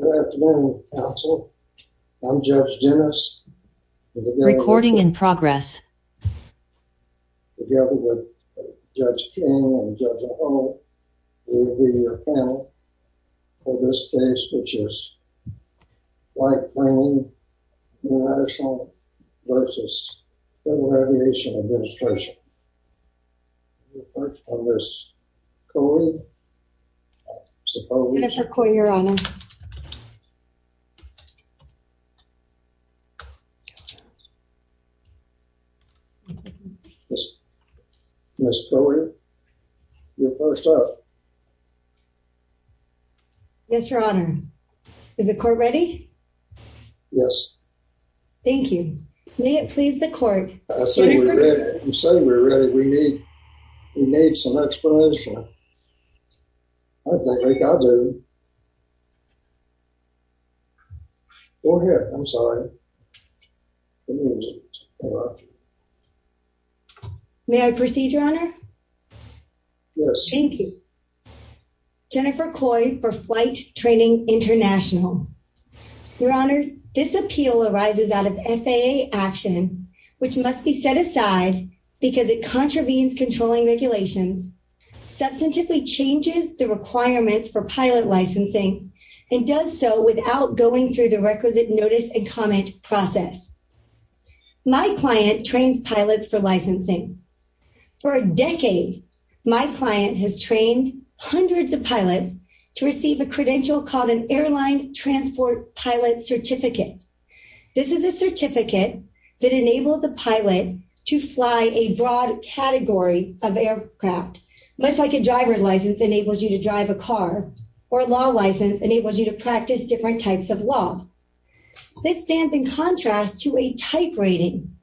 Good afternoon, counsel. I'm Judge Dennis, together with Judge King and Judge O'Hall who will be your panel for this case, which is Flight Training International v. Federal Aviation Administration. We'll start with Ms. Coley. Jennifer Coley, Your Honor. Ms. Coley, you're first up. Yes, Your Honor. Is the court ready? Yes. Thank you. May it please the court. I'm saying we're ready. We need some explanation. I think I do. Go ahead. I'm sorry. May I proceed, Your Honor? Yes. Thank you. Jennifer Coley for Flight Training International. Your Honors, this appeal arises out of FAA action, which must be set aside because it contravenes controlling regulations, substantively changes the requirements for pilot licensing, and does so without going through the requisite notice and comment process. My client trains pilots for licensing. For a decade, my client has trained hundreds of pilots to receive a credential called an Airline Transport Pilot Certificate. This is a certificate that enables a pilot to fly a broad category of aircraft, much like a driver's license enables you to drive a car, or a law license enables you to practice different types of law. This stands in contrast to a type rating.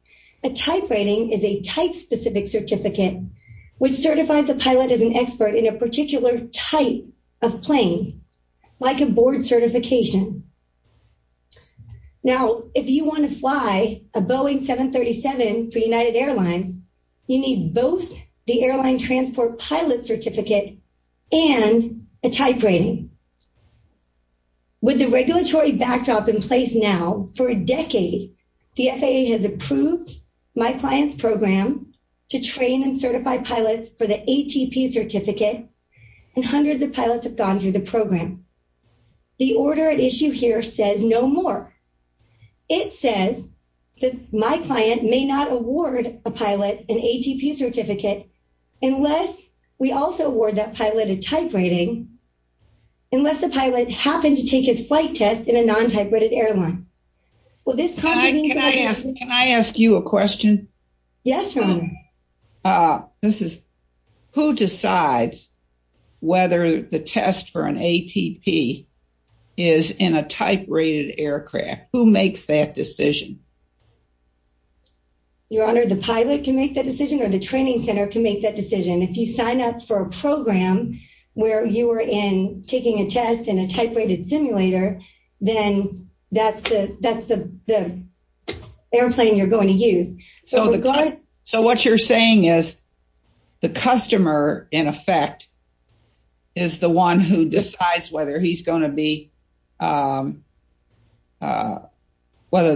A type rating is a type-specific certificate, which certifies a pilot as an expert in a particular type of plane, like a board certification. Now, if you want to fly a Boeing 737 for United Airlines, you need both the Airline Transport Pilot Certificate and a type rating. With the regulatory backdrop in place now, for a decade, the FAA has approved my client's program to train and certify pilots for the ATP certificate, and hundreds of pilots have gone through the program. The order at issue here says no more. It says that my client may not award a pilot an ATP certificate unless we also award that pilot a type rating, unless the pilot happened to take his flight test in a non-type rated airline. Can I ask you a question? Yes, ma'am. Who decides whether the test for an ATP is in a type rated aircraft? Who makes that decision? Your Honor, the pilot can make that decision, or the training center can make that decision. If you sign up for a program where you are taking a test in a type rated simulator, then that's the airplane you're going to use. So what you're saying is the customer, in effect, is the one who decides whether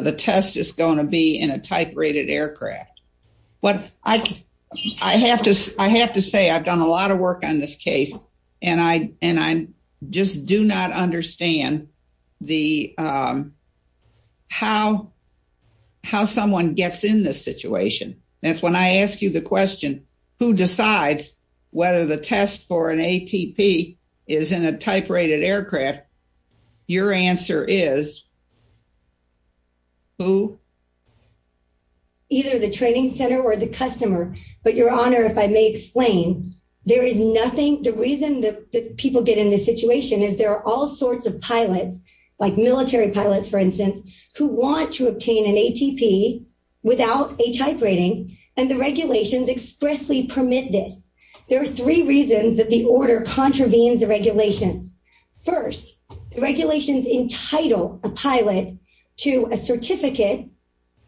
the test is going to be in a type rated aircraft. I have to say I've done a lot of work on this case, and I just do not understand how someone gets in this situation. That's when I ask you the question, who decides whether the test for an ATP is in a type rated aircraft, your answer is who? Either the training center or the customer, but your Honor, if I may explain, the reason that people get in this situation is there are all sorts of pilots, like military pilots, for instance, who want to obtain an ATP without a type rating, and the regulations expressly permit this. There are three reasons that the order contravenes the regulations. First, the regulations entitle a pilot to a certificate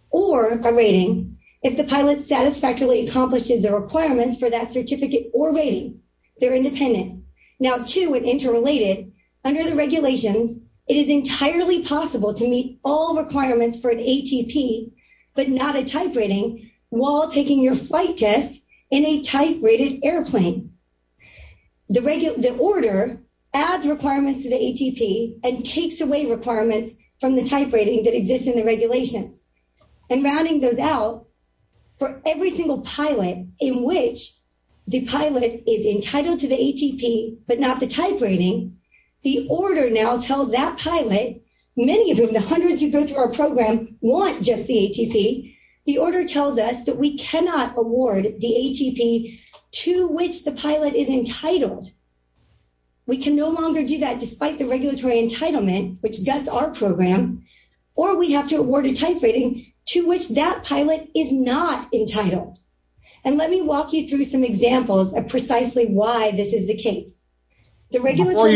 or a rating if the pilot satisfactorily accomplishes the requirements for that certificate or rating. They're independent. Now, two, and interrelated, under the regulations, it is entirely possible to meet all requirements for an ATP, but not a type rating, while taking your flight test in a type rated airplane. The order adds requirements to the ATP and takes away requirements from the type rating that exists in the regulations, and rounding those out, for every single pilot in which the pilot is entitled to the ATP, but not the type rating, the order now tells that pilot, many of whom, the hundreds who go through our program, want just the ATP. The order tells us that we cannot award the ATP to which the pilot is entitled. We can no longer do that, despite the regulatory entitlement, which does our program, or we have to award a type rating to which that pilot is not entitled, and let me walk you through some examples of precisely why this is the case. Before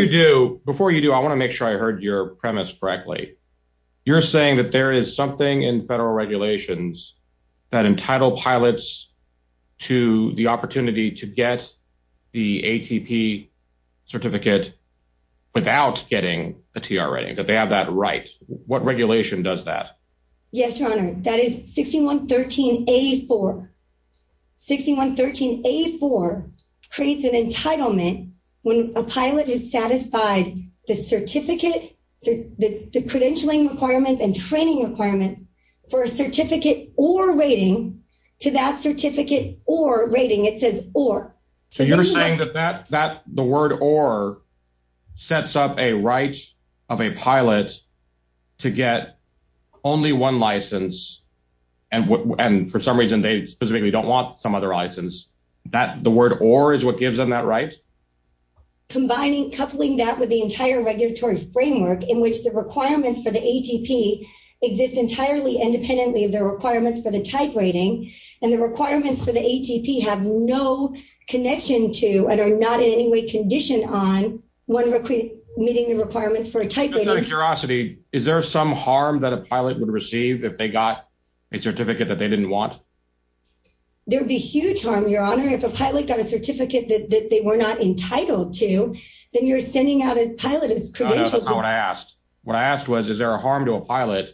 you do, I want to make sure I heard your premise correctly. You're saying that there is something in federal regulations that entitle pilots to the opportunity to get the ATP certificate without getting a TR rating, that they have that right. What regulation does that? Yes, your honor. That is 6113A4. 6113A4 creates an entitlement when a pilot is satisfied the certificate, the credentialing requirements and training requirements for a certificate or rating to that certificate or rating. It says or. You're saying that the word or sets up a right of a pilot to get only one license, and for some reason they specifically don't want some other license. The word or is what gives them that right? Combining, coupling that with the entire regulatory framework in which the requirements for the ATP exist entirely independently of the requirements for the type rating, and the requirements for the ATP have no connection to and are not in any way conditioned on one meeting the requirements for a type rating. Out of curiosity, is there some harm that a pilot would receive if they got a certificate that they didn't want? There'd be huge harm, your honor. If a pilot got a certificate that they were not entitled to, then you're sending out a pilot as credentialed. No, that's not what I asked. What I asked was, is there a harm to a pilot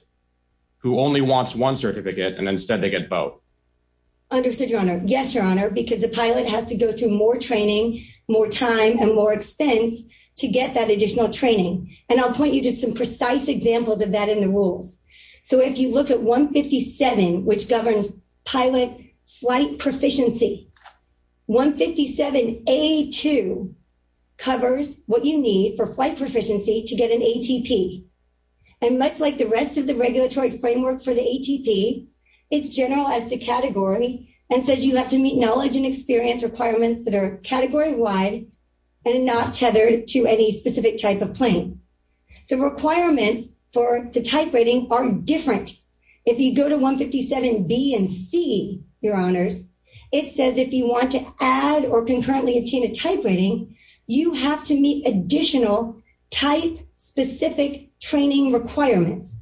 who only wants one certificate and instead they get both? Understood, your honor. Yes, your honor, because the pilot has to go through more training, more time and more expense to get that additional training. And I'll point you to some precise examples of that in the rules. So if you look at 157, which governs pilot flight proficiency, 157A2 covers what you need for flight proficiency to get an ATP. And much like the rest of the regulatory framework for the ATP, it's general as to category and says you have to meet knowledge and experience requirements that are category wide and not tethered to any specific type of plane. The requirements for the type rating are different. If you go to 157B and C, your honors, it says if you want to add or concurrently obtain a type rating, you have to meet additional type specific training requirements.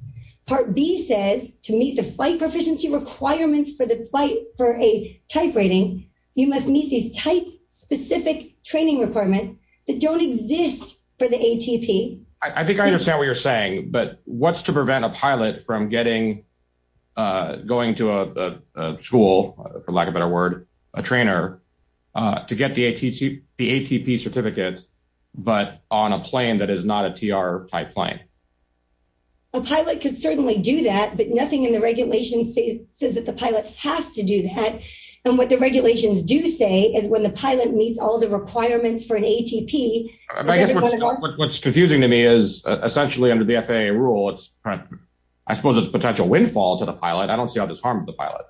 Part B says to meet the flight proficiency requirements for the flight for a type rating, you must meet these type specific training requirements that don't exist for the ATP. I think I understand what you're saying, but what's to prevent a pilot from getting, going to a school, for lack of a better word, a trainer, to get the ATP certificate, but on a plane that is not a TR type plane? A pilot could certainly do that, but nothing in the regulations says that the pilot has to do that. And what the regulations do say is when the pilot meets all the requirements for an ATP. I guess what's confusing to me is essentially under the FAA rule, I suppose it's potential windfall to the pilot. I don't see how this harms the pilot.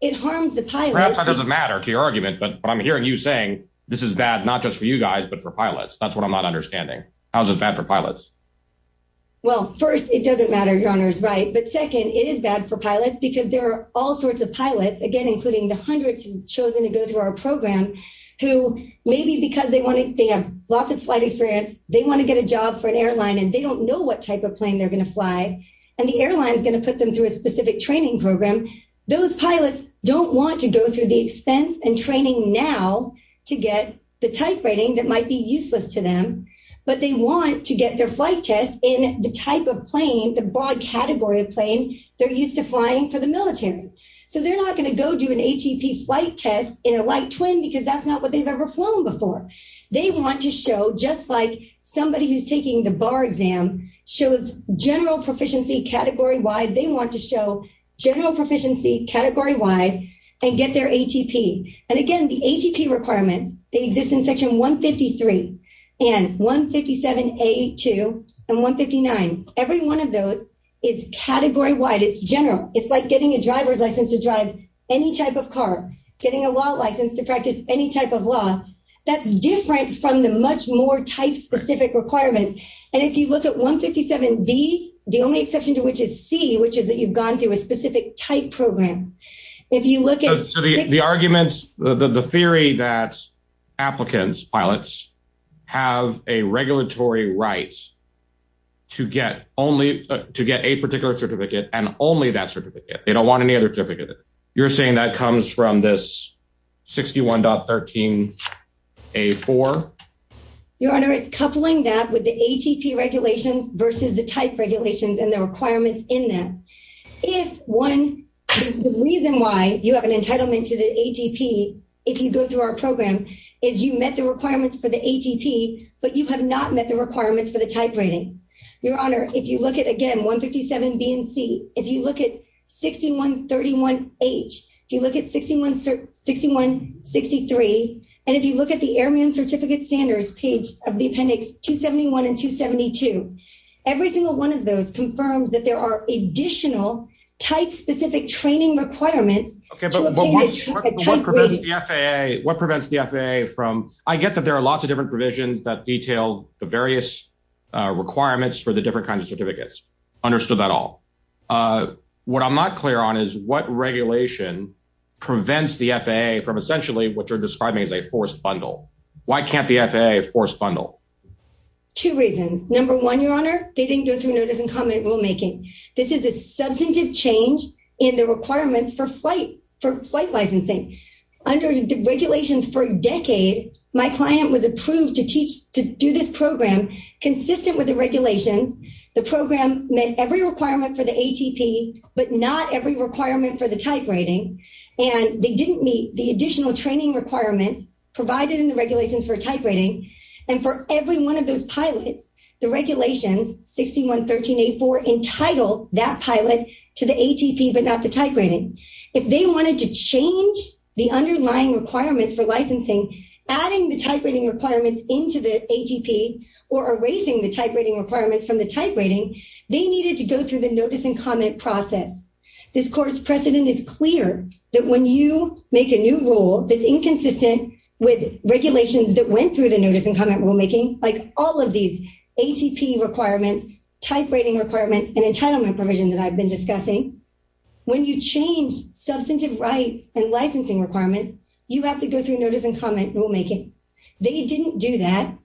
It harms the pilot. Perhaps that doesn't matter to your argument, but what I'm hearing you saying, this is bad, not just for you guys, but for pilots. That's what I'm not understanding. How is this bad for pilots? Well, first, it doesn't matter, your honors, right? But second, it is bad for pilots because there are all sorts of pilots, again, including the hundreds who've chosen to go through our program, who maybe because they have lots of flight experience, they want to get a job for an airline, and they don't know what type of plane they're going to fly. And the airline is going to put them through a specific training program. Those pilots don't want to go through the expense and training now to get the type rating that might be useless to them, but they want to get their flight test in the type of plane, the broad category of plane they're used to flying for the military. So they're not going to go do an ATP flight test in a light twin because that's not what they've ever flown before. They want to show, just like somebody who's taking the bar exam shows general proficiency category-wide, they want to show general proficiency category-wide and get their ATP. And again, the ATP requirements, they exist in Section 153 and 157A2 and 159. Every one of those is category-wide. It's general. It's like getting a driver's license to drive any type of car, getting a law license to practice any type of law. That's different from the much more type-specific requirements. And if you look at 157B, the only exception to which is C, which is that you've gone through a specific type program. So the arguments, the theory that applicants, pilots, have a regulatory right to get a particular certificate and only that certificate. They don't want any other certificate. You're saying that comes from this 61.13A4? Your Honor, it's coupling that with the ATP regulations versus the type regulations and the requirements in them. The reason why you have an entitlement to the ATP, if you go through our program, is you met the requirements for the ATP, but you have not met the requirements for the type rating. Your Honor, if you look at, again, 157B and C, if you look at 61.31H, if you look at 61.63, and if you look at the Airman Certificate Standards page of the Appendix 271 and 272, every single one of those confirms that there are additional type-specific training requirements to obtain a type rating. What prevents the FAA from, I get that there are lots of different provisions that detail the various requirements for the different kinds of certificates. Understood that all. What I'm not clear on is what regulation prevents the FAA from essentially what you're describing as a forced bundle. Why can't the FAA force bundle? Two reasons. Number one, Your Honor, they didn't go through notice and comment rulemaking. This is a substantive change in the requirements for flight licensing. Under the regulations for a decade, my client was approved to do this program consistent with the regulations. The program met every requirement for the ATP, but not every requirement for the type rating. And they didn't meet the additional training requirements provided in the regulations for a type rating. And for every one of those pilots, the regulations, 61.13A.4, entitled that pilot to the ATP but not the type rating. If they wanted to change the underlying requirements for licensing, adding the type rating requirements into the ATP or erasing the type rating requirements from the type rating, they needed to go through the notice and comment process. This Court's precedent is clear that when you make a new rule that's inconsistent with regulations that went through the notice and comment rulemaking, like all of these ATP requirements, type rating requirements, and entitlement provision that I've been discussing. When you change substantive rights and licensing requirements, you have to go through notice and comment rulemaking. They didn't do that.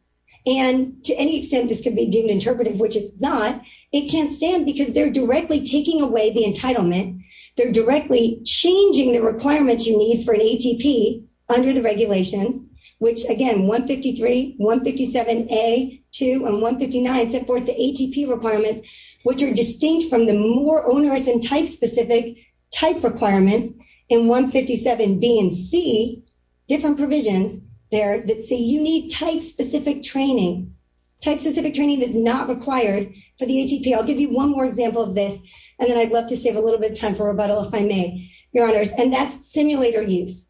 And to any extent this could be deemed interpretive, which it's not, it can't stand because they're directly taking away the entitlement. They're directly changing the requirements you need for an ATP under the regulations, which again, 153, 157A, 2, and 159 set forth the ATP requirements, which are distinct from the more onerous and type-specific type requirements in 157B and C, different provisions there that say you need type-specific training. Type-specific training that's not required for the ATP. I'll give you one more example of this, and then I'd love to save a little bit of time for rebuttal if I may, Your Honors, and that's simulator use.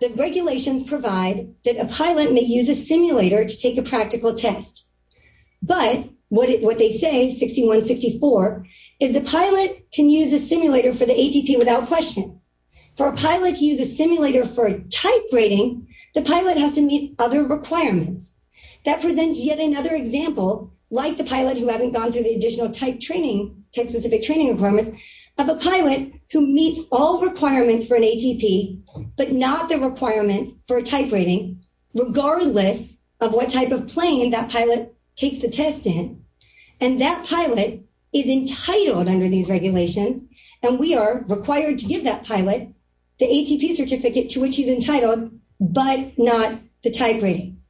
The regulations provide that a pilot may use a simulator to take a practical test, but what they say, 6164, is the pilot can use a simulator for the ATP without question. For a pilot to use a simulator for a type rating, the pilot has to meet other requirements. That presents yet another example, like the pilot who hasn't gone through the additional type-specific training requirements, of a pilot who meets all requirements for an ATP, but not the requirements for a type rating, regardless of what type of plane that pilot takes the test in. And that pilot is entitled under these regulations, and we are required to give that pilot the ATP certificate to which he's entitled, but not the type rating.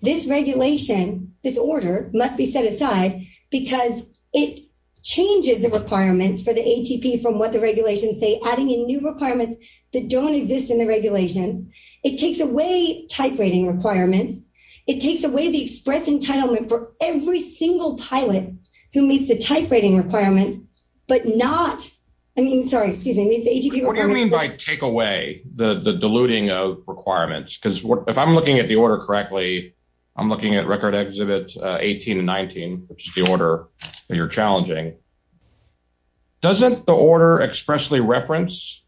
This regulation, this order, must be set aside because it changes the requirements for the ATP from what the regulations say, adding in new requirements that don't exist in the regulations. It takes away type rating requirements. It takes away the express entitlement for every single pilot who meets the type rating requirements, but not, I mean, sorry, excuse me, meets the ATP requirements. What do you mean by take away, the diluting of requirements? Because if I'm looking at the order correctly, I'm looking at Record Exhibit 18 and 19, which is the order that you're challenging. Doesn't the order expressly reference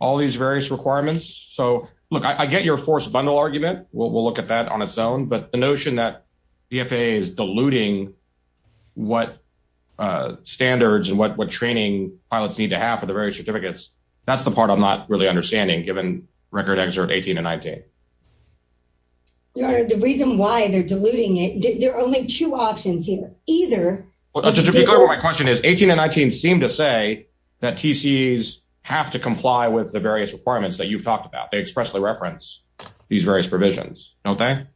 all these various requirements? So look, I get your forced bundle argument. We'll look at that on its own. But the notion that BFA is diluting what standards and what training pilots need to have for the various certificates, that's the part I'm not really understanding, given Record Exhibit 18 and 19. Your Honor, the reason why they're diluting it, there are only two options here. To be clear with my question is, 18 and 19 seem to say that TCEs have to comply with the various requirements that you've talked about. They expressly reference these various provisions, don't they?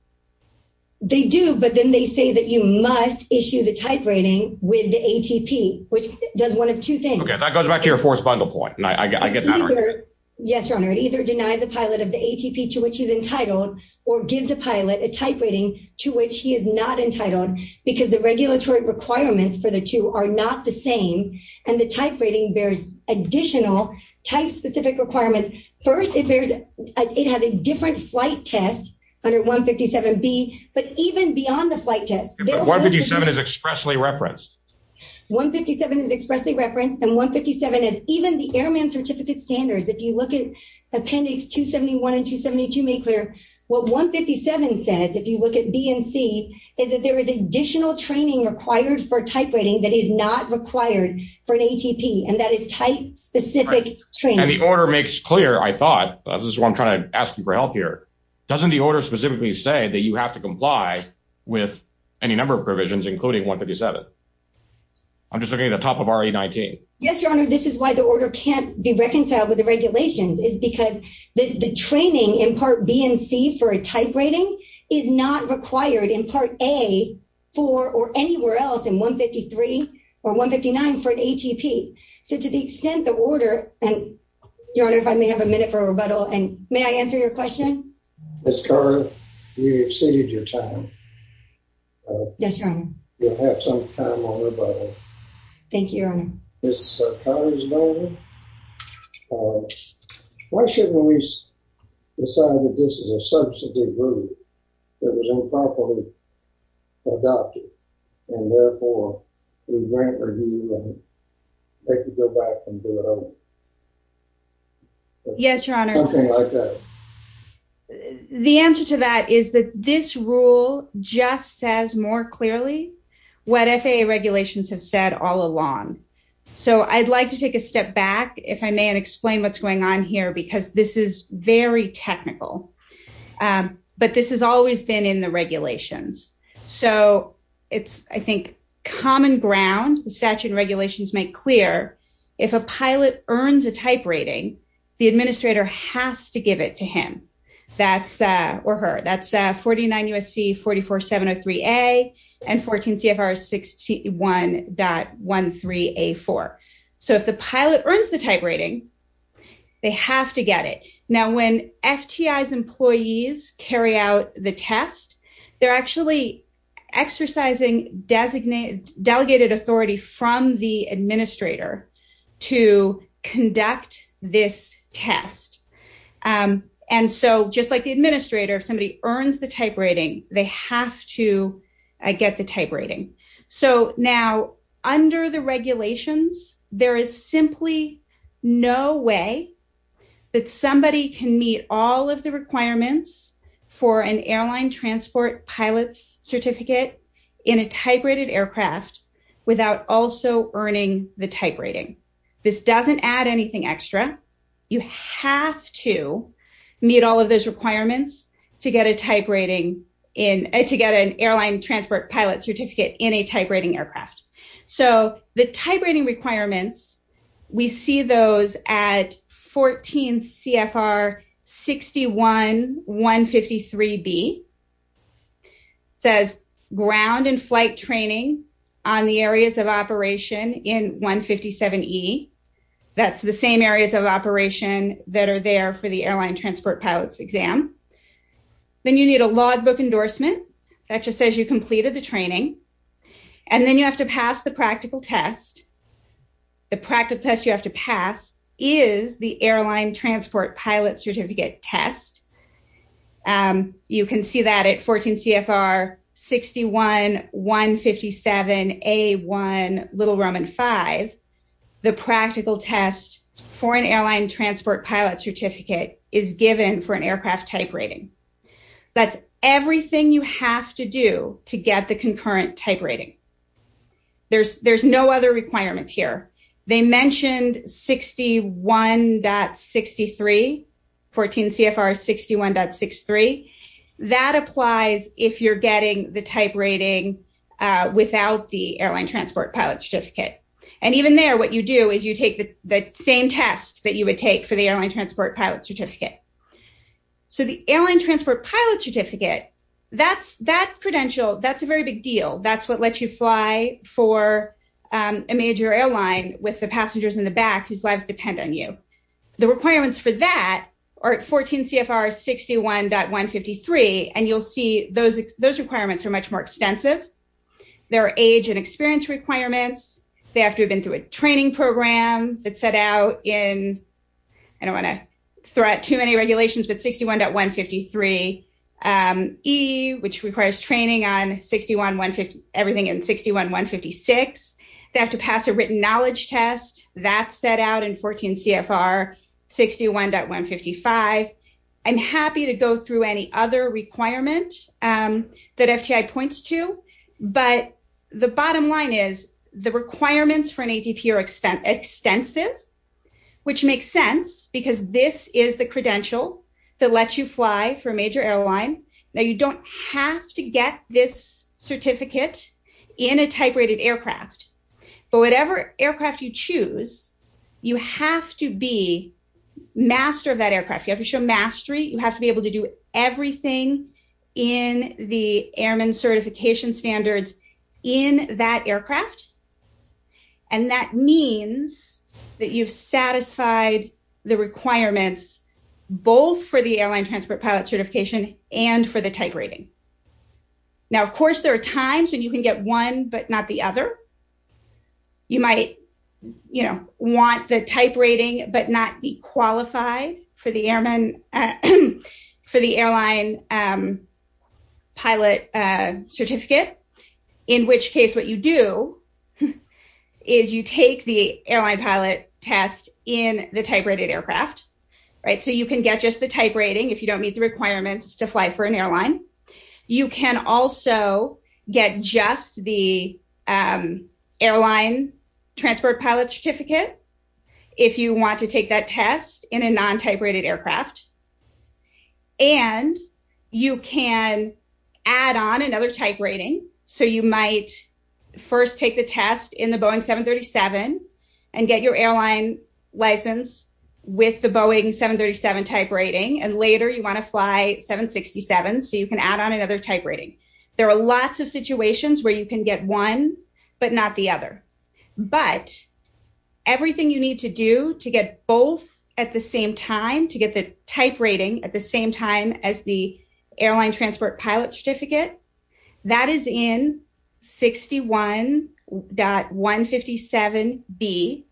They do, but then they say that you must issue the type rating with the ATP, which does one of two things. Okay, that goes back to your forced bundle point. I get that argument. Yes, Your Honor. It either denies a pilot of the ATP to which he's entitled, or gives a pilot a type rating to which he is not entitled, because the regulatory requirements for the two are not the same, and the type rating bears additional type-specific requirements. First, it has a different flight test under 157B, but even beyond the flight test— But 157 is expressly referenced. 157 is expressly referenced, and 157 is—even the Airman Certificate Standards, if you look at Appendix 271 and 272, make clear, what 157 says, if you look at B and C, is that there is additional training required for type rating that is not required for an ATP, and that is type-specific training. And the order makes clear, I thought—this is why I'm trying to ask you for help here—doesn't the order specifically say that you have to comply with any number of provisions, including 157? I'm just looking at the top of RE19. Yes, Your Honor, this is why the order can't be reconciled with the regulations, is because the training in Part B and C for a type rating is not required in Part A for—or anywhere else in 153 or 159 for an ATP. So to the extent the order—Your Honor, if I may have a minute for a rebuttal, and may I answer your question? Ms. Carter, you've exceeded your time. Yes, Your Honor. You'll have some time on rebuttal. Thank you, Your Honor. Ms. Carter, why shouldn't we decide that this is a substantive rule that was improperly adopted, and therefore we grant review, and they can go back and do it over? Yes, Your Honor. Something like that. The answer to that is that this rule just says more clearly what FAA regulations have said all along. So I'd like to take a step back, if I may, and explain what's going on here, because this is very technical. But this has always been in the regulations. So it's, I think, common ground. The statute and regulations make clear if a pilot earns a type rating, the administrator has to give it to him or her. That's 49 U.S.C. 44703A and 14 CFR 61.13A4. So if the pilot earns the type rating, they have to get it. Now, when FTI's employees carry out the test, they're actually exercising delegated authority from the administrator to conduct this test. And so just like the administrator, if somebody earns the type rating, they have to get the type rating. So now under the regulations, there is simply no way that somebody can meet all of the requirements for an airline transport pilot's certificate in a type rated aircraft without also earning the type rating. This doesn't add anything extra. You have to meet all of those requirements to get an airline transport pilot's certificate in a type rating aircraft. So the type rating requirements, we see those at 14 CFR 61.153B. It says ground and flight training on the areas of operation in 157E. That's the same areas of operation that are there for the airline transport pilot's exam. Then you need a logbook endorsement that just says you completed the training. And then you have to pass the practical test. The practical test you have to pass is the airline transport pilot's certificate test. You can see that at 14 CFR 61.157A1.5. The practical test for an airline transport pilot's certificate is given for an aircraft type rating. That's everything you have to do to get the concurrent type rating. There's no other requirement here. They mentioned 61.63, 14 CFR 61.63. That applies if you're getting the type rating without the airline transport pilot's certificate. And even there, what you do is you take the same test that you would take for the airline transport pilot's certificate. So the airline transport pilot's certificate, that credential, that's a very big deal. That's what lets you fly for a major airline with the passengers in the back whose lives depend on you. The requirements for that are at 14 CFR 61.153. And you'll see those requirements are much more extensive. There are age and experience requirements. You have to go through a training program that's set out in, I don't want to throw out too many regulations, but 61.153E, which requires training on everything in 61.156. They have to pass a written knowledge test. That's set out in 14 CFR 61.155. I'm happy to go through any other requirement that FTI points to. But the bottom line is the requirements for an ATP are extensive, which makes sense because this is the credential that lets you fly for a major airline. Now, you don't have to get this certificate in a type rated aircraft, but whatever aircraft you choose, you have to be master of that aircraft. You have to show mastery. You have to be able to do everything in the airman certification standards in that aircraft. And that means that you've satisfied the requirements, both for the airline transport pilot certification and for the type rating. Now, of course, there are times when you can get one, but not the other. You might want the type rating, but not be qualified for the airline pilot certificate, in which case what you do is you take the airline pilot test in the type rated aircraft. So you can get just the type rating if you don't meet the requirements to fly for an airline. You can also get just the airline transport pilot certificate if you want to take that test in a non-type rated aircraft. And you can add on another type rating. So you might first take the test in the Boeing 737 and get your airline license with the Boeing 737 type rating. And later you want to fly 767, so you can add on another type rating. There are lots of situations where you can get one, but not the other. But everything you need to do to get both at the same time, to get the type rating at the same time as the airline transport pilot certificate, that is in 61.157B.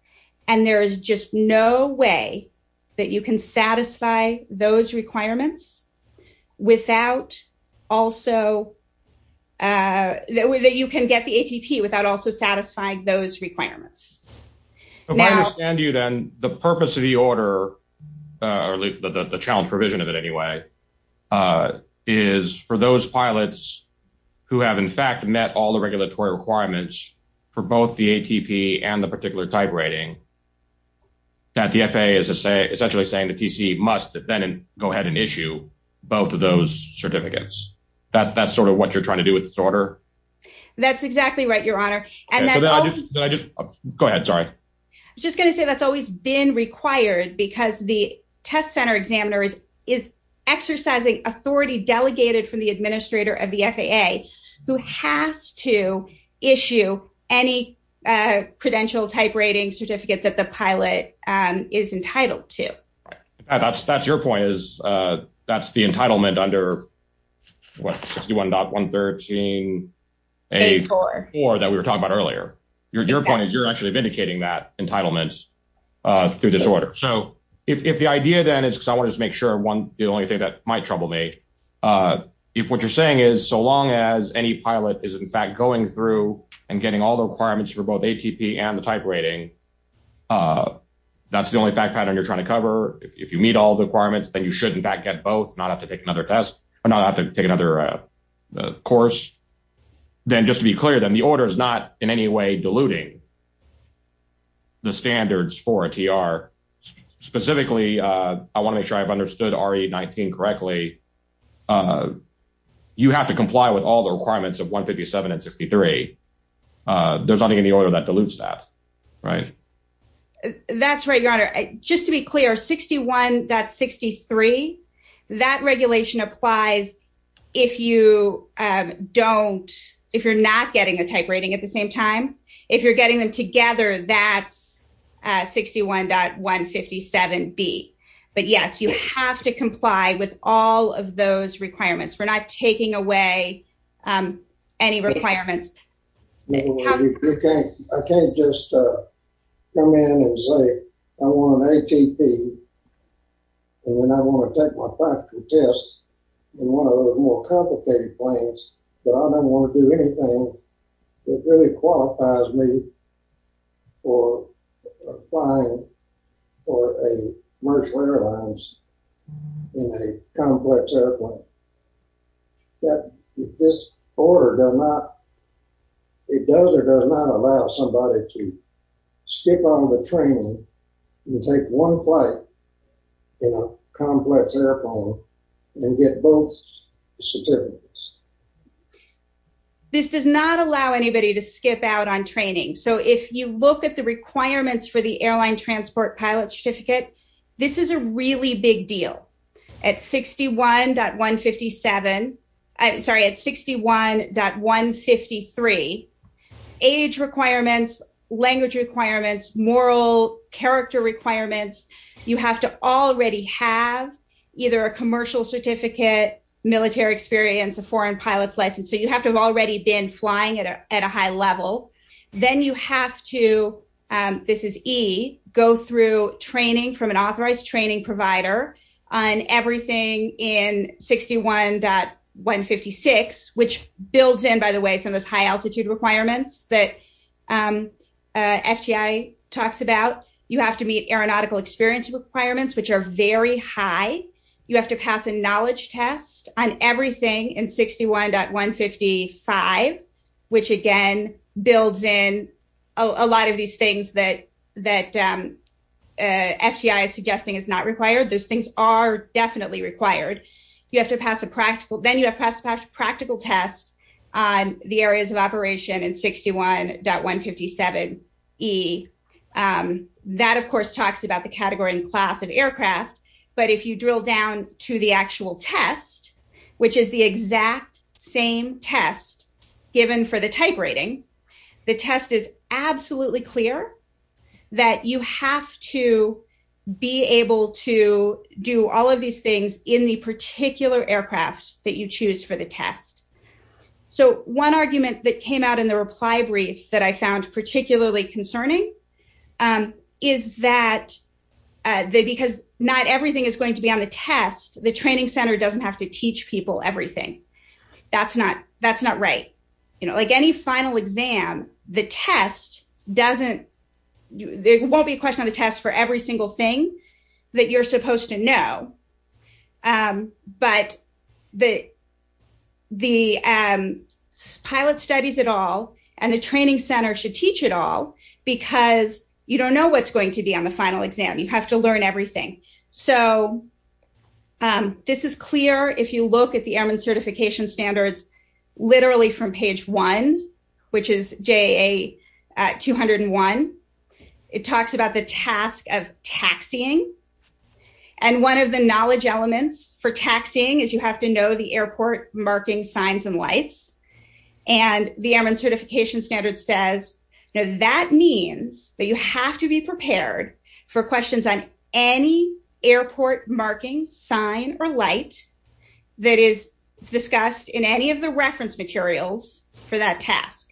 And there is just no way that you can get the ATP without also satisfying those requirements. If I understand you then, the purpose of the order, or the challenge provision of it anyway, is for those pilots who have in fact met all the regulatory requirements for both the ATP and the particular type rating, that the FAA is essentially saying the TC must then go ahead and issue both of those certificates. That's sort of what you're trying to do with this order? That's exactly right, Your Honor. Go ahead, sorry. I was just going to say that's always been required because the test center examiner is exercising authority delegated from the administrator of the FAA who has to issue any credential type rating certificate that the pilot is entitled to. That's your point is that's the entitlement under what, 61.113A4 that we were talking about earlier. Your point is you're actually vindicating that entitlement through this order. So if the idea then is, because I want to make sure, the only thing that might trouble me, if what you're saying is so long as any pilot is in fact going through and getting all the requirements for both ATP and the type rating, that's the only fact pattern you're trying to cover. If you meet all the requirements, then you should in fact get both, not have to take another test, or not have to take another course. Then just to be clear, then the order is not in any way diluting the standards for a TR. Specifically, I want to make sure I've understood RE19 correctly. You have to comply with all the requirements of 157 and 63. There's nothing in the order that dilutes that, right? That's right, Your Honor. Just to be clear, 61.63, that regulation applies if you don't, if you're not getting a type rating at the same time. If you're getting them together, that's 61.157B. But yes, you have to comply with all of those requirements. We're not taking away any requirements. I can't just come in and say I want an ATP, and then I want to take my practical test in one of those more complicated planes, but I don't want to do anything that really qualifies me for applying for a commercial airlines in a complex airplane. This order does not, it does or does not allow somebody to skip all the training and take one flight in a complex airplane and get both certificates. This does not allow anybody to skip out on training. So if you look at the requirements for the airline transport pilot certificate, this is a really big deal. At 61.157, I'm sorry, at 61.153, age requirements, language requirements, moral character requirements, you have to already have either a commercial certificate, military experience, a foreign pilot's license. So you have to have already been flying at a high level. You have to, this is E, go through training from an authorized training provider on everything in 61.156, which builds in, by the way, some of those high altitude requirements that FTI talks about. You have to meet aeronautical experience requirements, which are very high. You have to pass a knowledge test on everything in 61.155, which again builds in a lot of these things that FTI is suggesting is not required. Those things are definitely required. You have to pass a practical, then you have to pass a practical test on the areas of operation in 61.157E. That, of course, talks about the category and class of aircraft. But if you drill down to the actual test, which is the exact same test that's given for the type rating, the test is absolutely clear that you have to be able to do all of these things in the particular aircraft that you choose for the test. So one argument that came out in the reply brief that I found particularly concerning is that because not everything is going to be on the test, the training center doesn't have to teach people everything. That's not right. Like any final exam, the test doesn't, there won't be a question on the test for every single thing that you're supposed to know. But the pilot studies at all and the training center should teach it all because you don't know what's going to be on the final exam. You have to learn everything. So this is clear if you look at the Airman Certification Standards literally from page one, which is JA-201. It talks about the task of taxiing. And one of the knowledge elements for taxiing is you have to know the airport marking signs and lights. And the Airman Certification Standard says, that means that you have to be prepared for questions on any airport marking sign or light that is discussed in any of the reference materials for that task.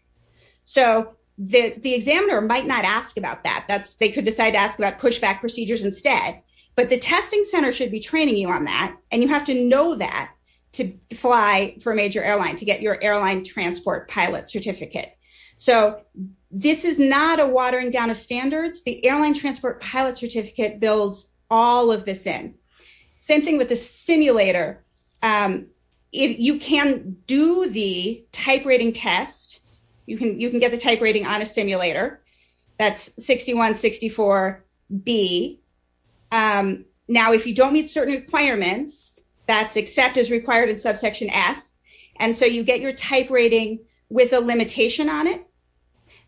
So the examiner might not ask about that. They could decide to ask about pushback procedures instead. But the testing center should be training you on that. And you have to know that to fly for a major airline, to get your airline transport pilot certificate. So this is not a watering down of standards. The airline transport pilot certificate builds all of this in. Same thing with the simulator. You can do the type rating test. You can get the type rating on a simulator. That's 6164B. Now, if you don't meet certain requirements, that's accept as required in subsection F. And so you get your type rating with a limitation on it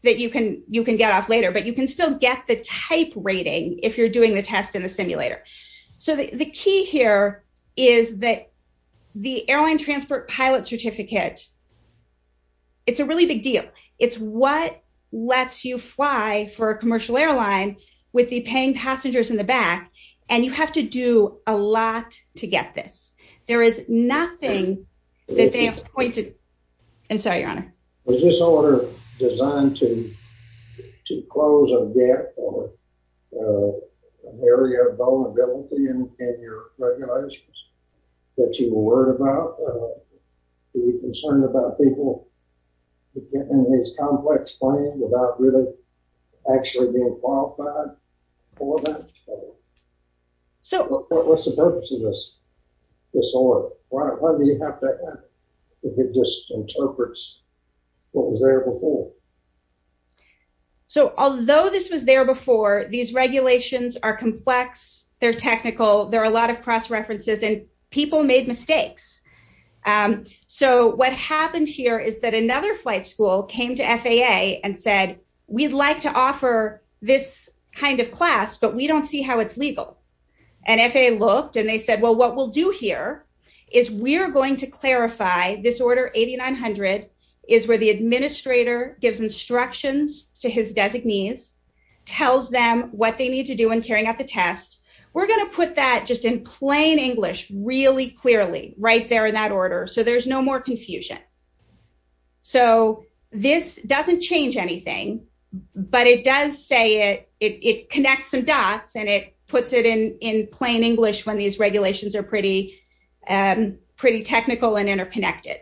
that you can get off later. But you can still get the type rating if you're doing the test in the simulator. So the key here is that the airline transport pilot certificate, it's a really big deal. It's what lets you fly for a commercial airline with the paying passengers in the back. And you have to do a lot to get this. There is nothing that they have pointed... I'm sorry, Your Honor. Was this order designed to close a gap or an area of vulnerability in your regulations that you were worried about? Were you concerned about people getting in these complex planes without really actually being qualified for them? What's the purpose of this? Why do you have that? It just interprets what was there before. So although this was there before, these regulations are complex. They're technical. There are a lot of cross-references, and people made mistakes. So what happened here is that another flight school came to FAA and said, we'd like to offer this kind of class, but we don't see how it's legal. And FAA looked and they said, well, what we'll do here is we're going to clarify this Order 8900 is where the administrator gives instructions to his designees, tells them what they need to do when carrying out the test. We're going to put that just in plain English really clearly right there in that order so there's no more confusion. So this doesn't change anything, but it does say it connects some dots and it puts it in plain English when these regulations are pretty technical and interconnected.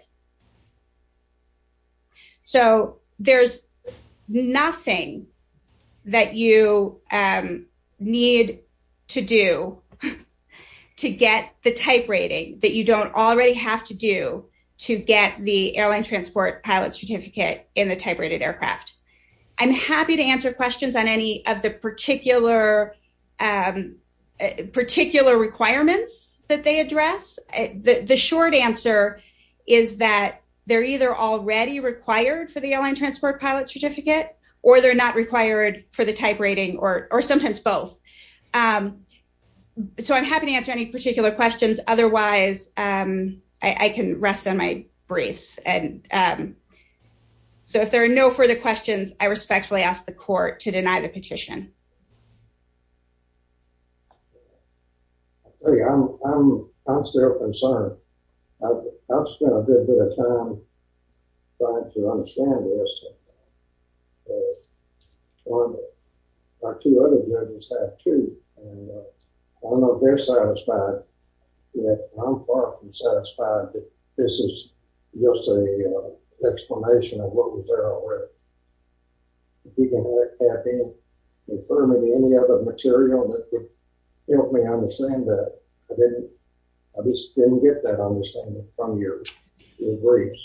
So there's nothing that you need to do to get the type rating that you don't already have to do to get the airline transport pilot certificate in the type rated aircraft. I'm happy to answer questions on any of the particular requirements that they address. The short answer is that they're either already required for the airline transport pilot certificate or they're not required for the type rating or sometimes both. So I'm happy to answer any particular questions. Otherwise, I can rest on my brace. And so if there are no further questions, I respectfully ask the court to sign the petition. I'm still concerned. I've spent a good bit of time trying to understand this. Our two other judges have too. I don't know if they're satisfied. I'm far from satisfied that this is just an explanation of what was there already. People have been confirming any other material that could help me understand that. I just didn't get that understanding from your briefs.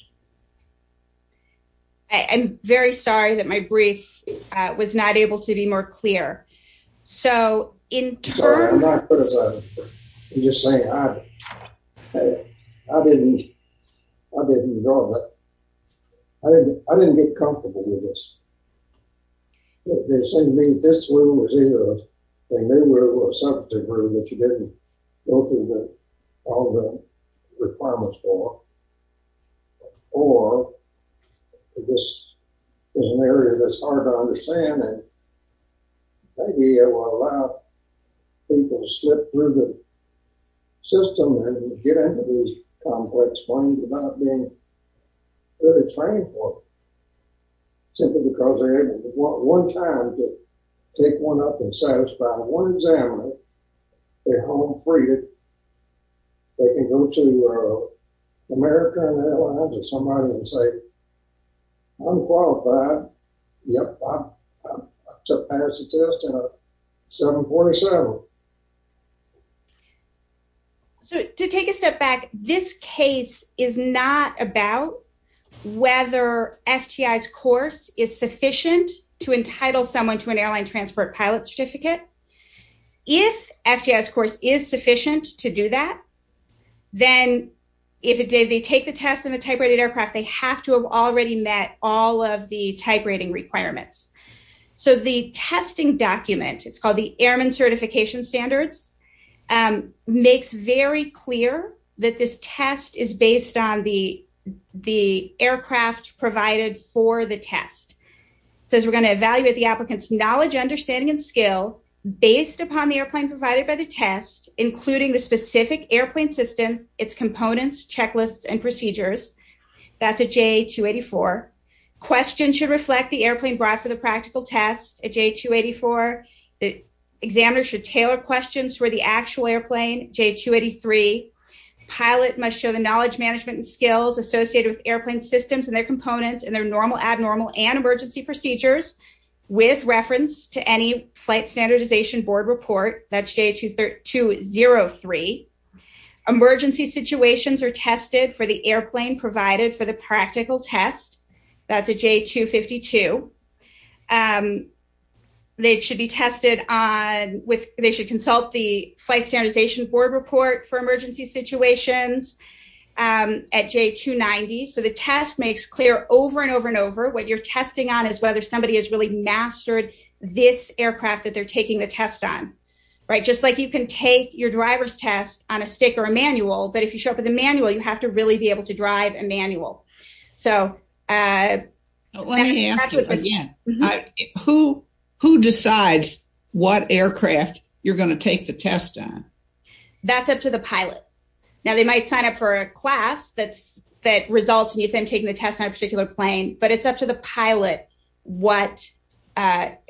I'm very sorry that my brief was not able to be more clear. So in turn... I'm sorry, I'm not. I'm just saying I didn't know that. I didn't get comfortable with this. They say to me, this rule is either a new rule or a substantive rule that you didn't go through all the requirements for. Or this is an area that's hard to understand and maybe I want to allow people to slip through the system and get into these complex points without being really trained for it. Simply because they're able one time to take one up and satisfy one examiner they're home free. They can go to America or somebody and say, I'm qualified. Yep, I passed the test and I'm 747. To take a step back, this case is not about whether FTI's course is sufficient to entitle someone to an airline transport pilot certificate. If FTI's course is sufficient to do that, then if they take the test in the type rated aircraft, they have to have already met all of the type rating requirements. So the testing document, it's called the Airman Certification Standards, makes very clear that this test is based on the aircraft provided for the test. It says we're going to evaluate the applicant's knowledge, understanding, and skill based upon the airplane provided by the test, including the specific airplane systems, its components, checklists, and procedures. That's a J-284. Questions should reflect the airplane brought for the practical test, a J-284. The examiner should tailor questions for the actual airplane, J-283. The pilot must show the knowledge, management, and skills associated with airplane systems and their components and their normal, abnormal, and emergency procedures with reference to any flight standardization board report. That's J-203. Emergency situations are tested for the airplane provided for the practical test. That's a J-252. They should be tested on, they should consult the flight standardization board report for the aircraft systems at J-290. The test makes clear over and over and over what you're testing on is whether somebody has really mastered this aircraft that they're taking the test on. Just like you can take your driver's test on a stick or a manual, but if you show up with a manual, you have to really be able to drive a manual. Let me ask you again. Who decides what aircraft you're going to take the test on? That's up to the pilot. You can sign up for a class that results in you taking the test on a particular plane, but it's up to the pilot what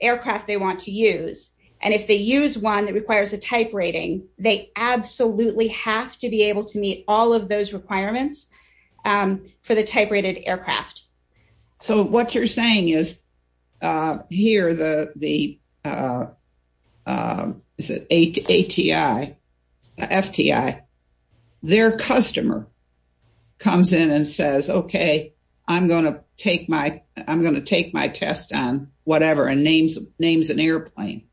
aircraft they want to use. If they use one that requires a type rating, they absolutely have to be able to meet all of those requirements for the type rated aircraft. What you're saying is, here, the ATI, FTI, their customer comes in and says, okay, I'm going to take my test on whatever and names an airplane.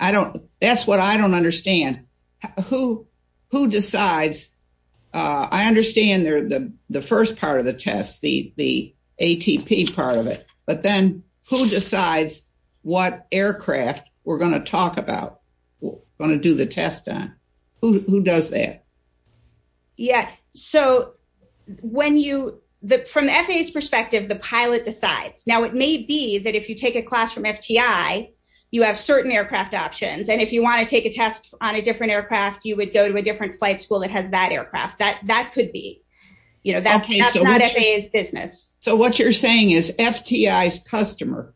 That's what I don't understand. Who decides? I understand the first part of the test, the ATP part of it, but then who decides what aircraft we're going to talk about, going to do the test on? Who does that? From FAA's perspective, the pilot decides. It may be that if you take a class from FTI, you have certain aircraft options. If you want to take a test on a different aircraft, you would go to a different flight school that has that aircraft. That could be. That's not FAA's business. What you're saying is, FTI's customer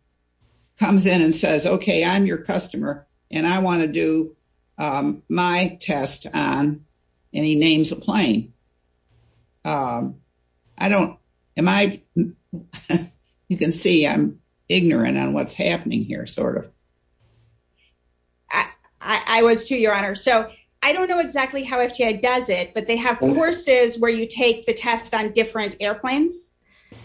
comes in and says, okay, I'm your customer and I want to do my test and he names a plane. You can see I'm ignorant on what's happening here, sort of. I was too, Your Honor. I don't know exactly how FTI does it, but they have courses where you take the test on different airplanes.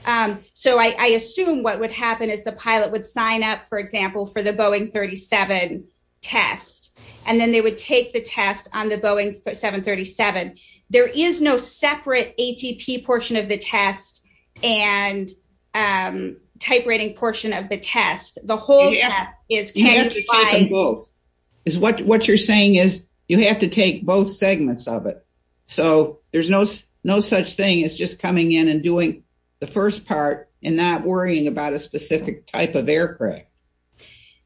I assume what would happen is the pilot would sign up, for example, for the Boeing 37 test and then they would take the test on the Boeing 737. There is no separate ATP portion of the test and type rating portion of the test. The whole test is classified. You have to take them both. What you're saying is, you have to take both segments of it. There's no such thing as just coming in and doing the first part and not worrying about a specific type of aircraft.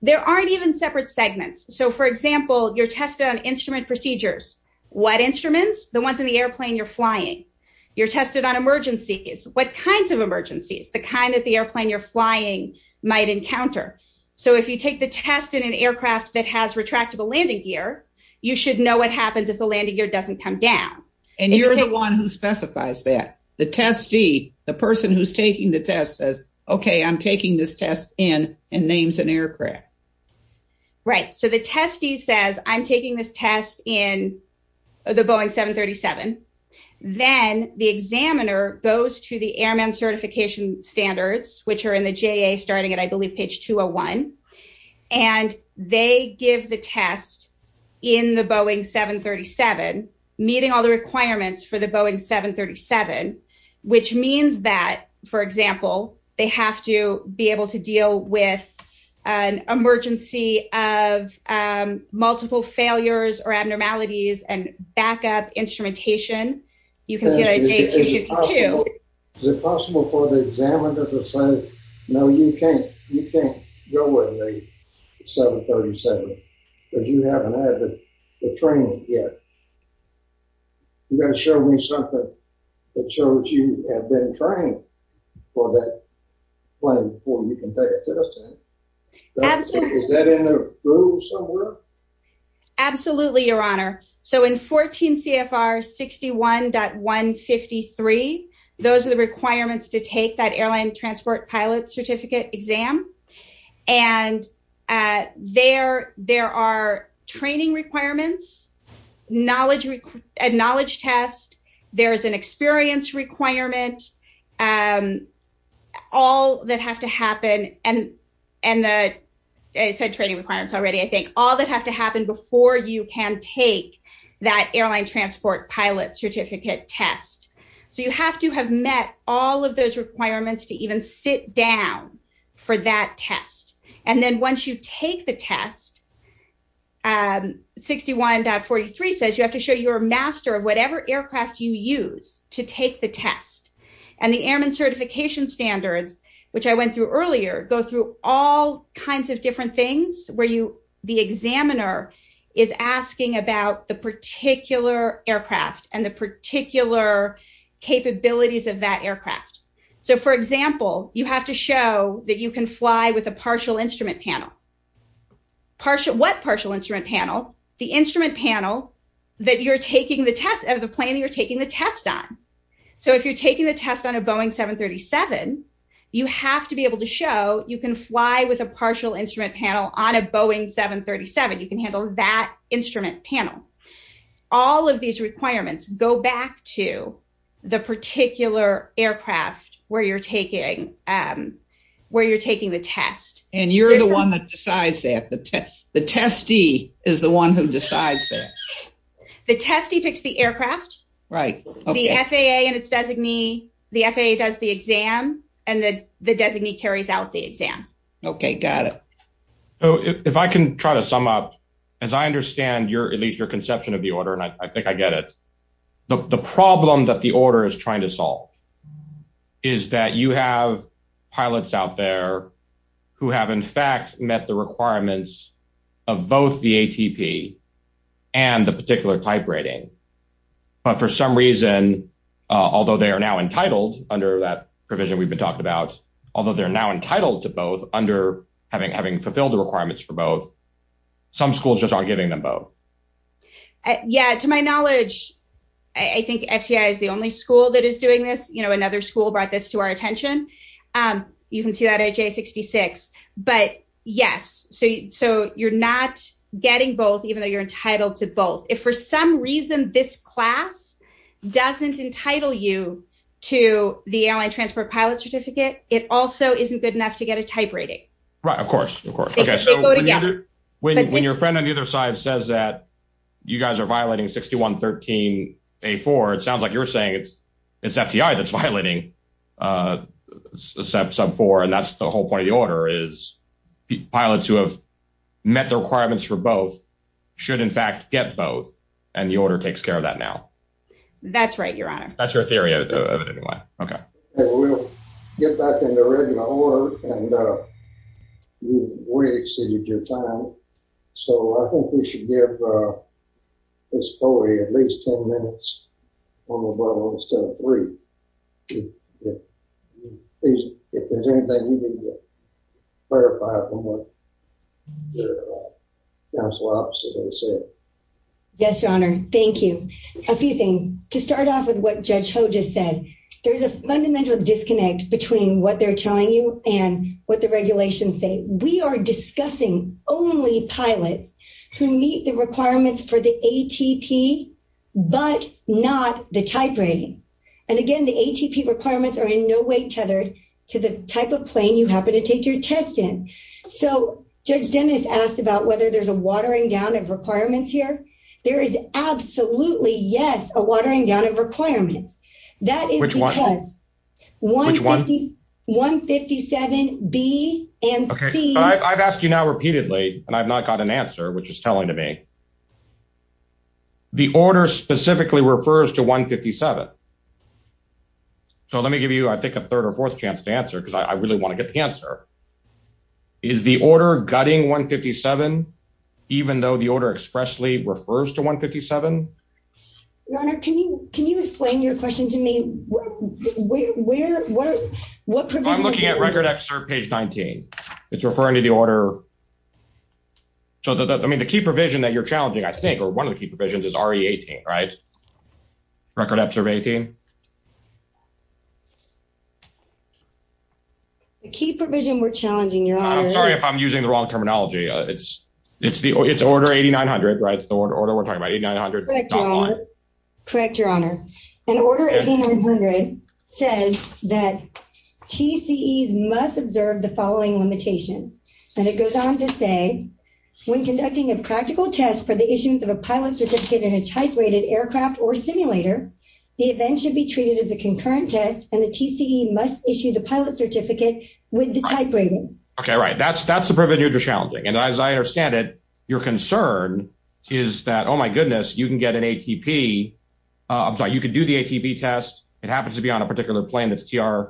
There aren't even separate segments. For example, you're tested on instrument procedures. What instruments? The ones in the airplane you're flying. You're tested on emergencies. What kinds of emergencies? The kind that the airplane you're flying might encounter. If you take the test in an aircraft that has retractable landing gear, you should know what happens if the landing gear doesn't come down. You're the one who specifies that. The testee, the person who's taking the test, says, okay, I'm taking this test in and names an aircraft. Right. The testee says, I'm taking this test in the Boeing 737. Then the examiner goes to the Airman Certification Standards, which are in the JA starting at, I believe, page 201. They give the test in the Boeing 737, meeting all the requirements for the Boeing 737, which means that, for example, they have to be able to deal with an emergency of multiple failures or abnormalities and backup instrumentation. You can see that in page 252. Is it possible for the examiner to say, no, you can't. You can't go with a 737 because you haven't had the training yet. You've got to show me something that shows you have been trained for that plane before you can take a test. Absolutely. Is that in the rule somewhere? Absolutely, Your Honor. In 14 CFR 61.153, those are the requirements to take that Airline Transport Pilot Certificate exam. There are training requirements, a knowledge test, there's an experience requirement, all that have to happen, and I said training requirements already, I think, all that have to happen before you can take that Airline Transport Pilot Certificate test. You have to have met all of those requirements to even sit down for that test. Then once you take the test, 61.43 says you have to show you're a master of whatever aircraft you use to take the test. The Airman Certification Standards, which I went through earlier, go through all kinds of different things where the examiner is asking about the particular aircraft and the particular capabilities of that aircraft. For example, you have to show that you can fly with a partial instrument panel. What partial instrument panel? The instrument panel of the plane that you're taking the test on. If you're taking the test on a Boeing 737, you have to be able to show you can fly with a partial instrument panel on a Boeing 737. You can handle that instrument panel. All of these requirements go back to the particular aircraft where you're taking the test. And you're the one that decides that. The testee is the one who decides that. The testee picks the aircraft. The FAA and its designee, the FAA does the exam, and the designee carries out the exam. Okay, got it. If I can try to sum up, as I understand your, at least your conception of the order, and I think I get it, the problem that the order is trying to solve is that you have pilots out there who have in fact met the requirements of both the ATP and the particular type rating. But for some reason, although they are now entitled under that provision we've been talking about, although they're now entitled to both under having fulfilled the requirements for both, some schools just aren't giving them both. Yeah, to my knowledge, I think FTI is the only school that is doing this. Another school brought this to our attention. You can see that at J66. But yes, so you're not getting both even though you're entitled to both. If for some reason this class doesn't entitle you to the Airline Transport Pilot Certificate, it also isn't good enough to get a type rating. Right, of course, of course. When your friend on either side says that you guys are violating 6113A4, it sounds like you're saying it's FTI that's violating sub-4, and that's the whole point of the order is pilots who have met the requirements for both should in fact get both, and the order takes care of that now. That's right, Your Honor. That's your theory of it anyway. We'll get back in the regular order, and we've exceeded your time, so I think we should give Miss Coley at least 10 minutes on the button instead of three. If there's anything you need to clarify from what your counsel officer has said. Yes, Your Honor. Thank you. A few things. To start off with what Judge Ho just said, there's a fundamental disconnect between what they're telling you and what the regulations say. We are discussing only pilots who meet the requirements for the ATP, but not the type rating. And again, the ATP requirements are in no way tethered to the type of plane you happen to take your test in. So Judge Dennis asked about whether there's a watering down of requirements here. There is absolutely, yes, a watering down of requirements. Which one? 157B and C. I've asked you now repeatedly, and I've not got an answer, which is telling to me. The order specifically refers to 157. So let me give you, I think, a third or fourth chance to answer is the order gutting 157, even though the order expressly refers to 157? Your Honor, can you explain your question to me? What provision? I'm looking at record excerpt page 19. It's referring to the order. So, I mean, the key provision that you're challenging, I think, or one of the key provisions is RE18, right? Record excerpt 18. The key provision we're challenging, Your Honor. I'm sorry if I'm using the wrong terminology. It's order 8900, right? It's the order we're talking about, 8900. Correct, Your Honor. And order 8900 says that TCEs must observe the following limitations. And it goes on to say, when conducting a practical test for the issuance of a pilot certificate in a type rated aircraft or simulator, the event should be treated as a concurrent test and the TCE must issue the pilot certificate with the type rating. Okay, right. That's the provision you're challenging. And as I understand it, your concern is that, oh, my goodness, you can get an ATP. I'm sorry, you can do the ATP test. It happens to be on a particular plane that's TR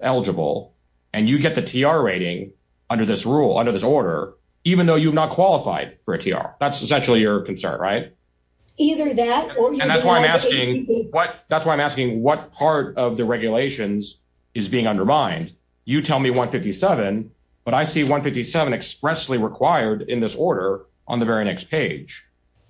eligible. And you get the TR rating under this rule, under this order, even though you've not qualified for a TR. That's essentially your concern, right? Either that or you can get an ATP. And that's why I'm asking, that's why I'm asking what part of the regulations is being undermined. You tell me 157, but I see 157 expressly required in this order on the very next page.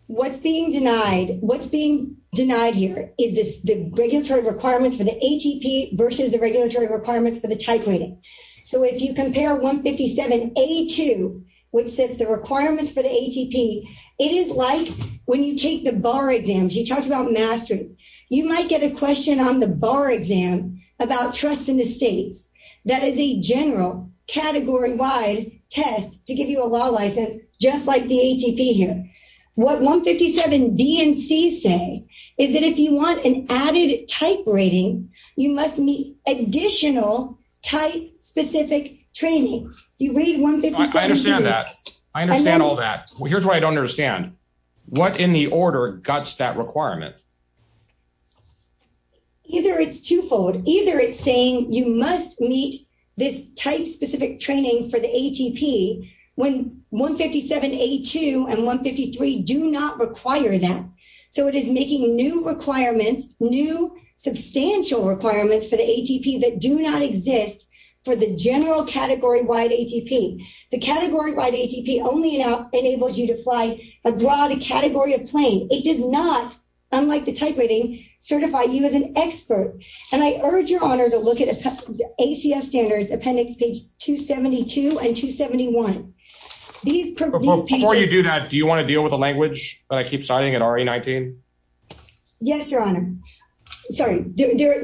What's being denied, what's being denied here is the regulatory requirements for the ATP versus the regulatory requirements for the type rating. So if you compare 157A2, which says the requirements for the ATP, it is like when you take the bar exams. You talked about mastery. You might get a question on the bar exam about trust in the states. That is a general category-wide test to give you a law license, just like the ATP here. What 157B and C say is that if you want an added type rating, you must meet additional type-specific training. You read 157B. I understand that. I don't understand. What in the order guts that requirement? Either it's twofold. Either it's saying you must meet this type-specific training for the ATP when 157A2 and 153 do not require that. So it is making new requirements, new substantial requirements for the ATP that do not exist for the general category-wide ATP. The category-wide ATP only enables you to fly a broad category of plane. It does not, unlike the type rating, certify you as an expert. And I urge your honor to look at ACF standards appendix page 272 and 271. Before you do that, do you want to deal with the language that I keep signing at RE19? Yes, your honor. Sorry. The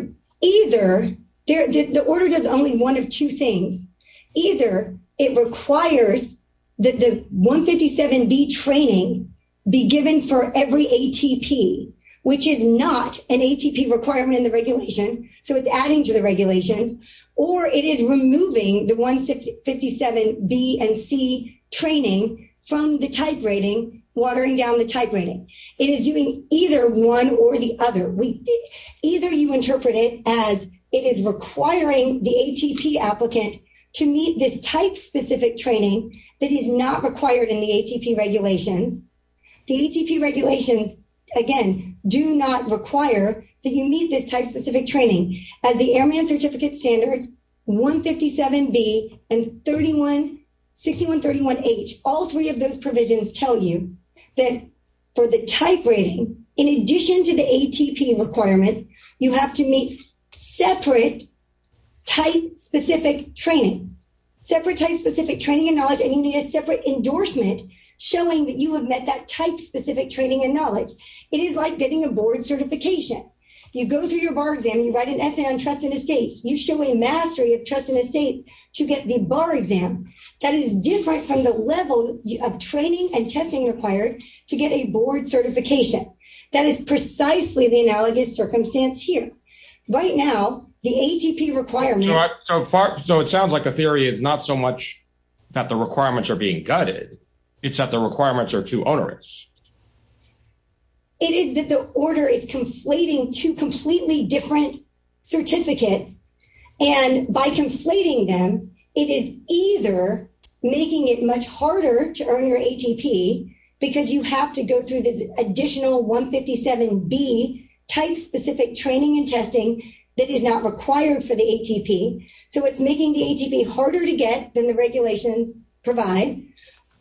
order does only one of two things. Either it requires that the 157B training be given for every ATP, which is not an ATP requirement in the regulation, so it's adding to the regulations, or it is removing the 157B and C training from the type rating, watering down the type rating. It is doing either one or the other. Either you interpret it as it is requiring the ATP applicant to meet this type-specific training that is not required in the ATP regulations. The ATP regulations, again, do not require that you meet this type-specific training. As the Airman Certificate Standards, 157B and 6131H, all three of those provisions tell you that for the type rating, in addition to the ATP requirements, you have to meet separate type-specific training. Separate type-specific training and knowledge, and you need a separate endorsement showing that you have met that type-specific training and knowledge. It is like getting a board certification. You go through your bar exam, you write an essay on trust and estates, you show a mastery of trust and estates to get the bar exam. That is different from the level of training and testing required to get a board certification. That is precisely the analogous circumstance here. Right now, the ATP requirements... So it sounds like a theory is not so much that the requirements are being gutted, it's that the requirements are too onerous. It is that the order is conflating two completely different certificates, and by conflating them, it is either making it much harder to earn your ATP, because you have to go through this additional 157B type-specific training and testing that is not required for the ATP, so it's making the ATP harder to get than the regulations provide,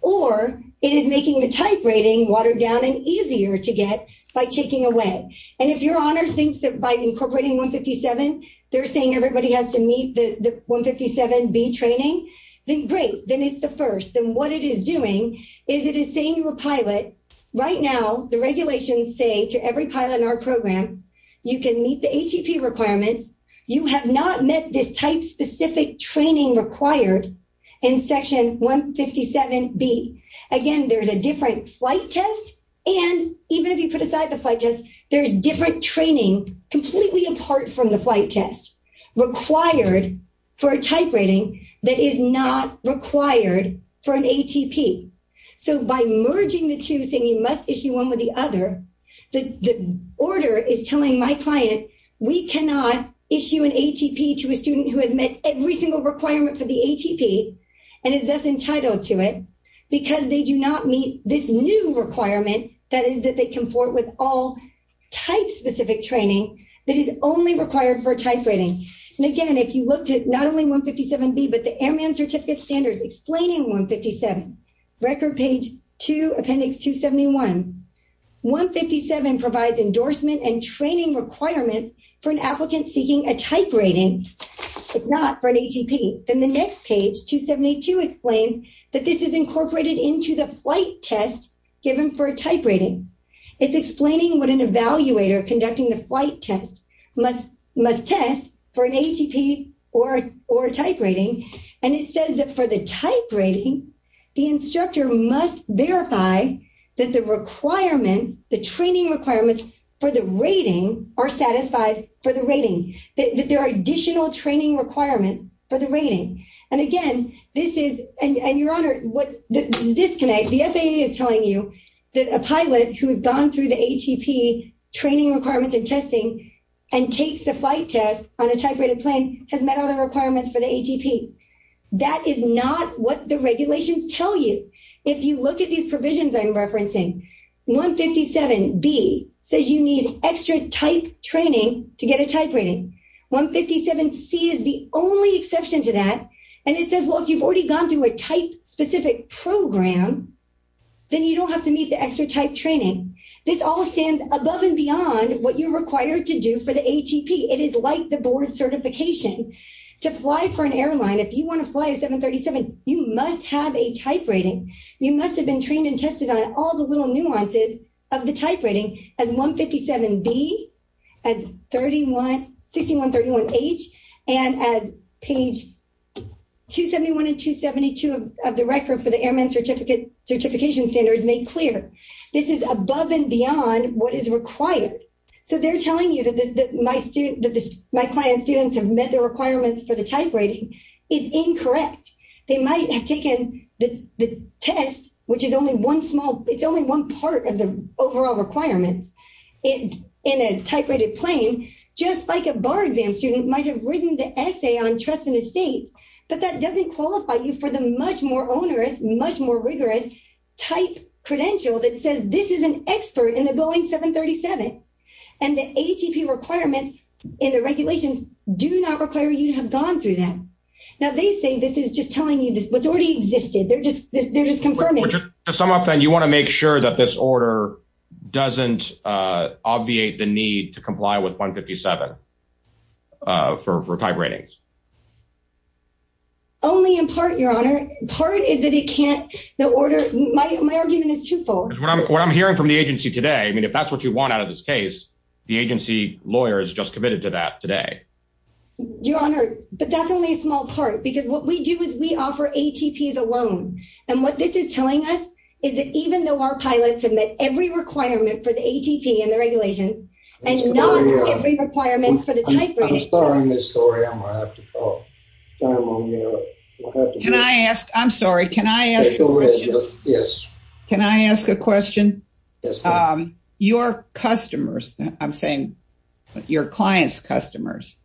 or it is making the type rating watered down and easier to get by taking away. And if your honor thinks that by incorporating 157, they're saying everybody has to meet the 157B training, then great, then it's the first. Then what it is doing is it is saying to a pilot, right now the regulations say to every pilot in our program, you can meet the ATP requirements, you have not met this type-specific training required in Section 157B. Again, there's a different flight test, and even if you put aside the flight test, there's different training completely apart from the flight test required for a type rating that is not required for an ATP. So by merging the two and saying you must issue one with the other, the order is telling my client we cannot issue an ATP to a student who has met every single requirement for the ATP and is thus entitled to it because they do not meet this new requirement, that is that they can afford with all type-specific training that is only required for a type rating. And again, if you looked at not only 157B, but the Airman Certificate Standards on page 271, 157 provides endorsement and training requirements for an applicant seeking a type rating. It's not for an ATP. Then the next page, 272, explains that this is incorporated into the flight test given for a type rating. It's explaining what an evaluator conducting the flight test must test for an ATP or a type rating, and it says that for the type rating, the instructor must verify that the requirements, the training requirements for the rating are satisfied for the rating, that there are additional training requirements for the rating. And again, this is, and Your Honor, the FAA is telling you that a pilot who has gone through the ATP training requirements and testing and takes the flight test on a type rated plane has met all the requirements for the ATP. That is not what the regulations tell you. If you look at these provisions I'm referencing, 157B says you need extra type training to get a type rating. 157C is the only exception to that, and it says, well, if you've already gone through a type-specific program, then you don't have to meet the extra type training. This all stands above and beyond what you're required to do for the ATP. It is like the board certification. To fly for an airline, you must have been trained and tested on all the little nuances of the type rating, as 157B, as 6131H, and as page 271 and 272 of the record for the Airman Certification Standards make clear. This is above and beyond what is required. So they're telling you that my client's students have met the requirements for the type rating. It's incorrect. They might have taken the test, which is only one small, it's only one part of the overall requirements. In a type rated plane, just like a bar exam student might have written the essay on trust and estate, but that doesn't qualify you for the much more onerous, much more rigorous type credential that says this is an expert in the Boeing 737, and the ATP requirements and the regulations do not require you to have gone through that. Now they say this is just telling you what's already existed. They're just confirming. To sum up then, you want to make sure that this order doesn't obviate the need to comply with 157 for type ratings. Only in part, Your Honor. Part is that it can't, the order, my argument is twofold. What I'm hearing from the agency today, I mean, if that's what you want out of this case, the agency lawyer is just committed to that today. Your Honor, but that's only a small part because what we do is we offer ATPs alone. And what this is telling us is that even though our pilots have met every requirement for the ATP and the regulations and not every requirement for the type rating. I'm sorry, Ms. Corey, I'm going to have to call. Can I ask? I'm sorry. Can I ask a question? Yes. Can I ask a question? Your customers, I'm saying your clients' customers,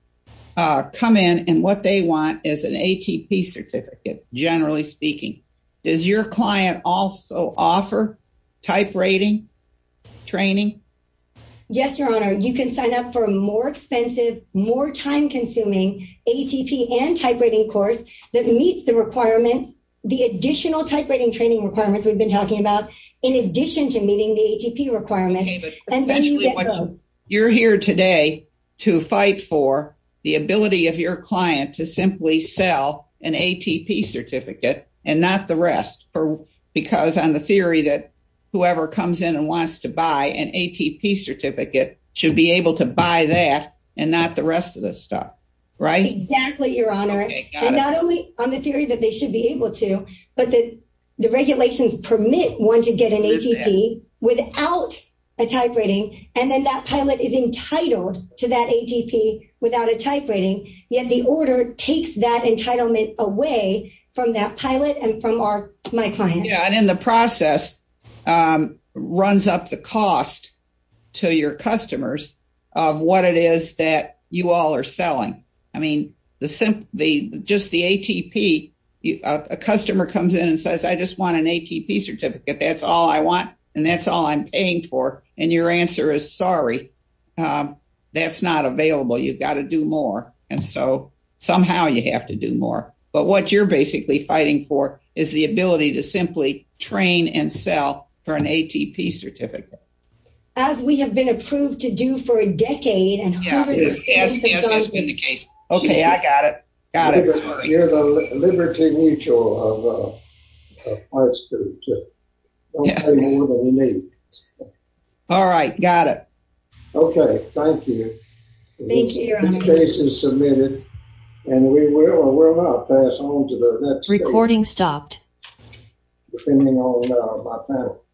come in and what they want is an ATP certificate, generally speaking. Does your client also offer type rating training? Yes, Your Honor. You can sign up for a more expensive, more time-consuming ATP and type rating course that meets the requirements, the additional type rating training requirements we've been talking about, in addition to meeting the ATP requirements. Essentially, you're here today to fight for the ability of your client to simply sell an ATP certificate and not the rest because on the theory that whoever comes in and wants to buy an ATP certificate should be able to buy that and not the rest of this stuff. Right? Exactly, Your Honor. Not only on the theory that they should be able to, but the regulations permit one to get an ATP without a type rating and then that pilot is entitled to that ATP without a type rating, yet the order takes that entitlement away from that pilot and from my client. Yeah, and in the process, runs up the cost to your customers of what it is that you all are selling. I mean, just the ATP, a customer comes in and says, I just want an ATP certificate. That's all I want and that's all I'm paying for. And your answer is, sorry, that's not available. You've got to do more and so somehow you have to do more. But what you're basically fighting for is the ability to simply train and sell for an ATP certificate. As we have been approved to do for a decade and hundreds of years. Yes, yes, that's been the case. Okay, I got it. Got it. You're the liberty mutual of parts that don't pay more than they need. All right, got it. Okay, thank you. Thank you, Your Honor. This case is submitted and we will or we're about to pass on to the next case. Depending on my panel.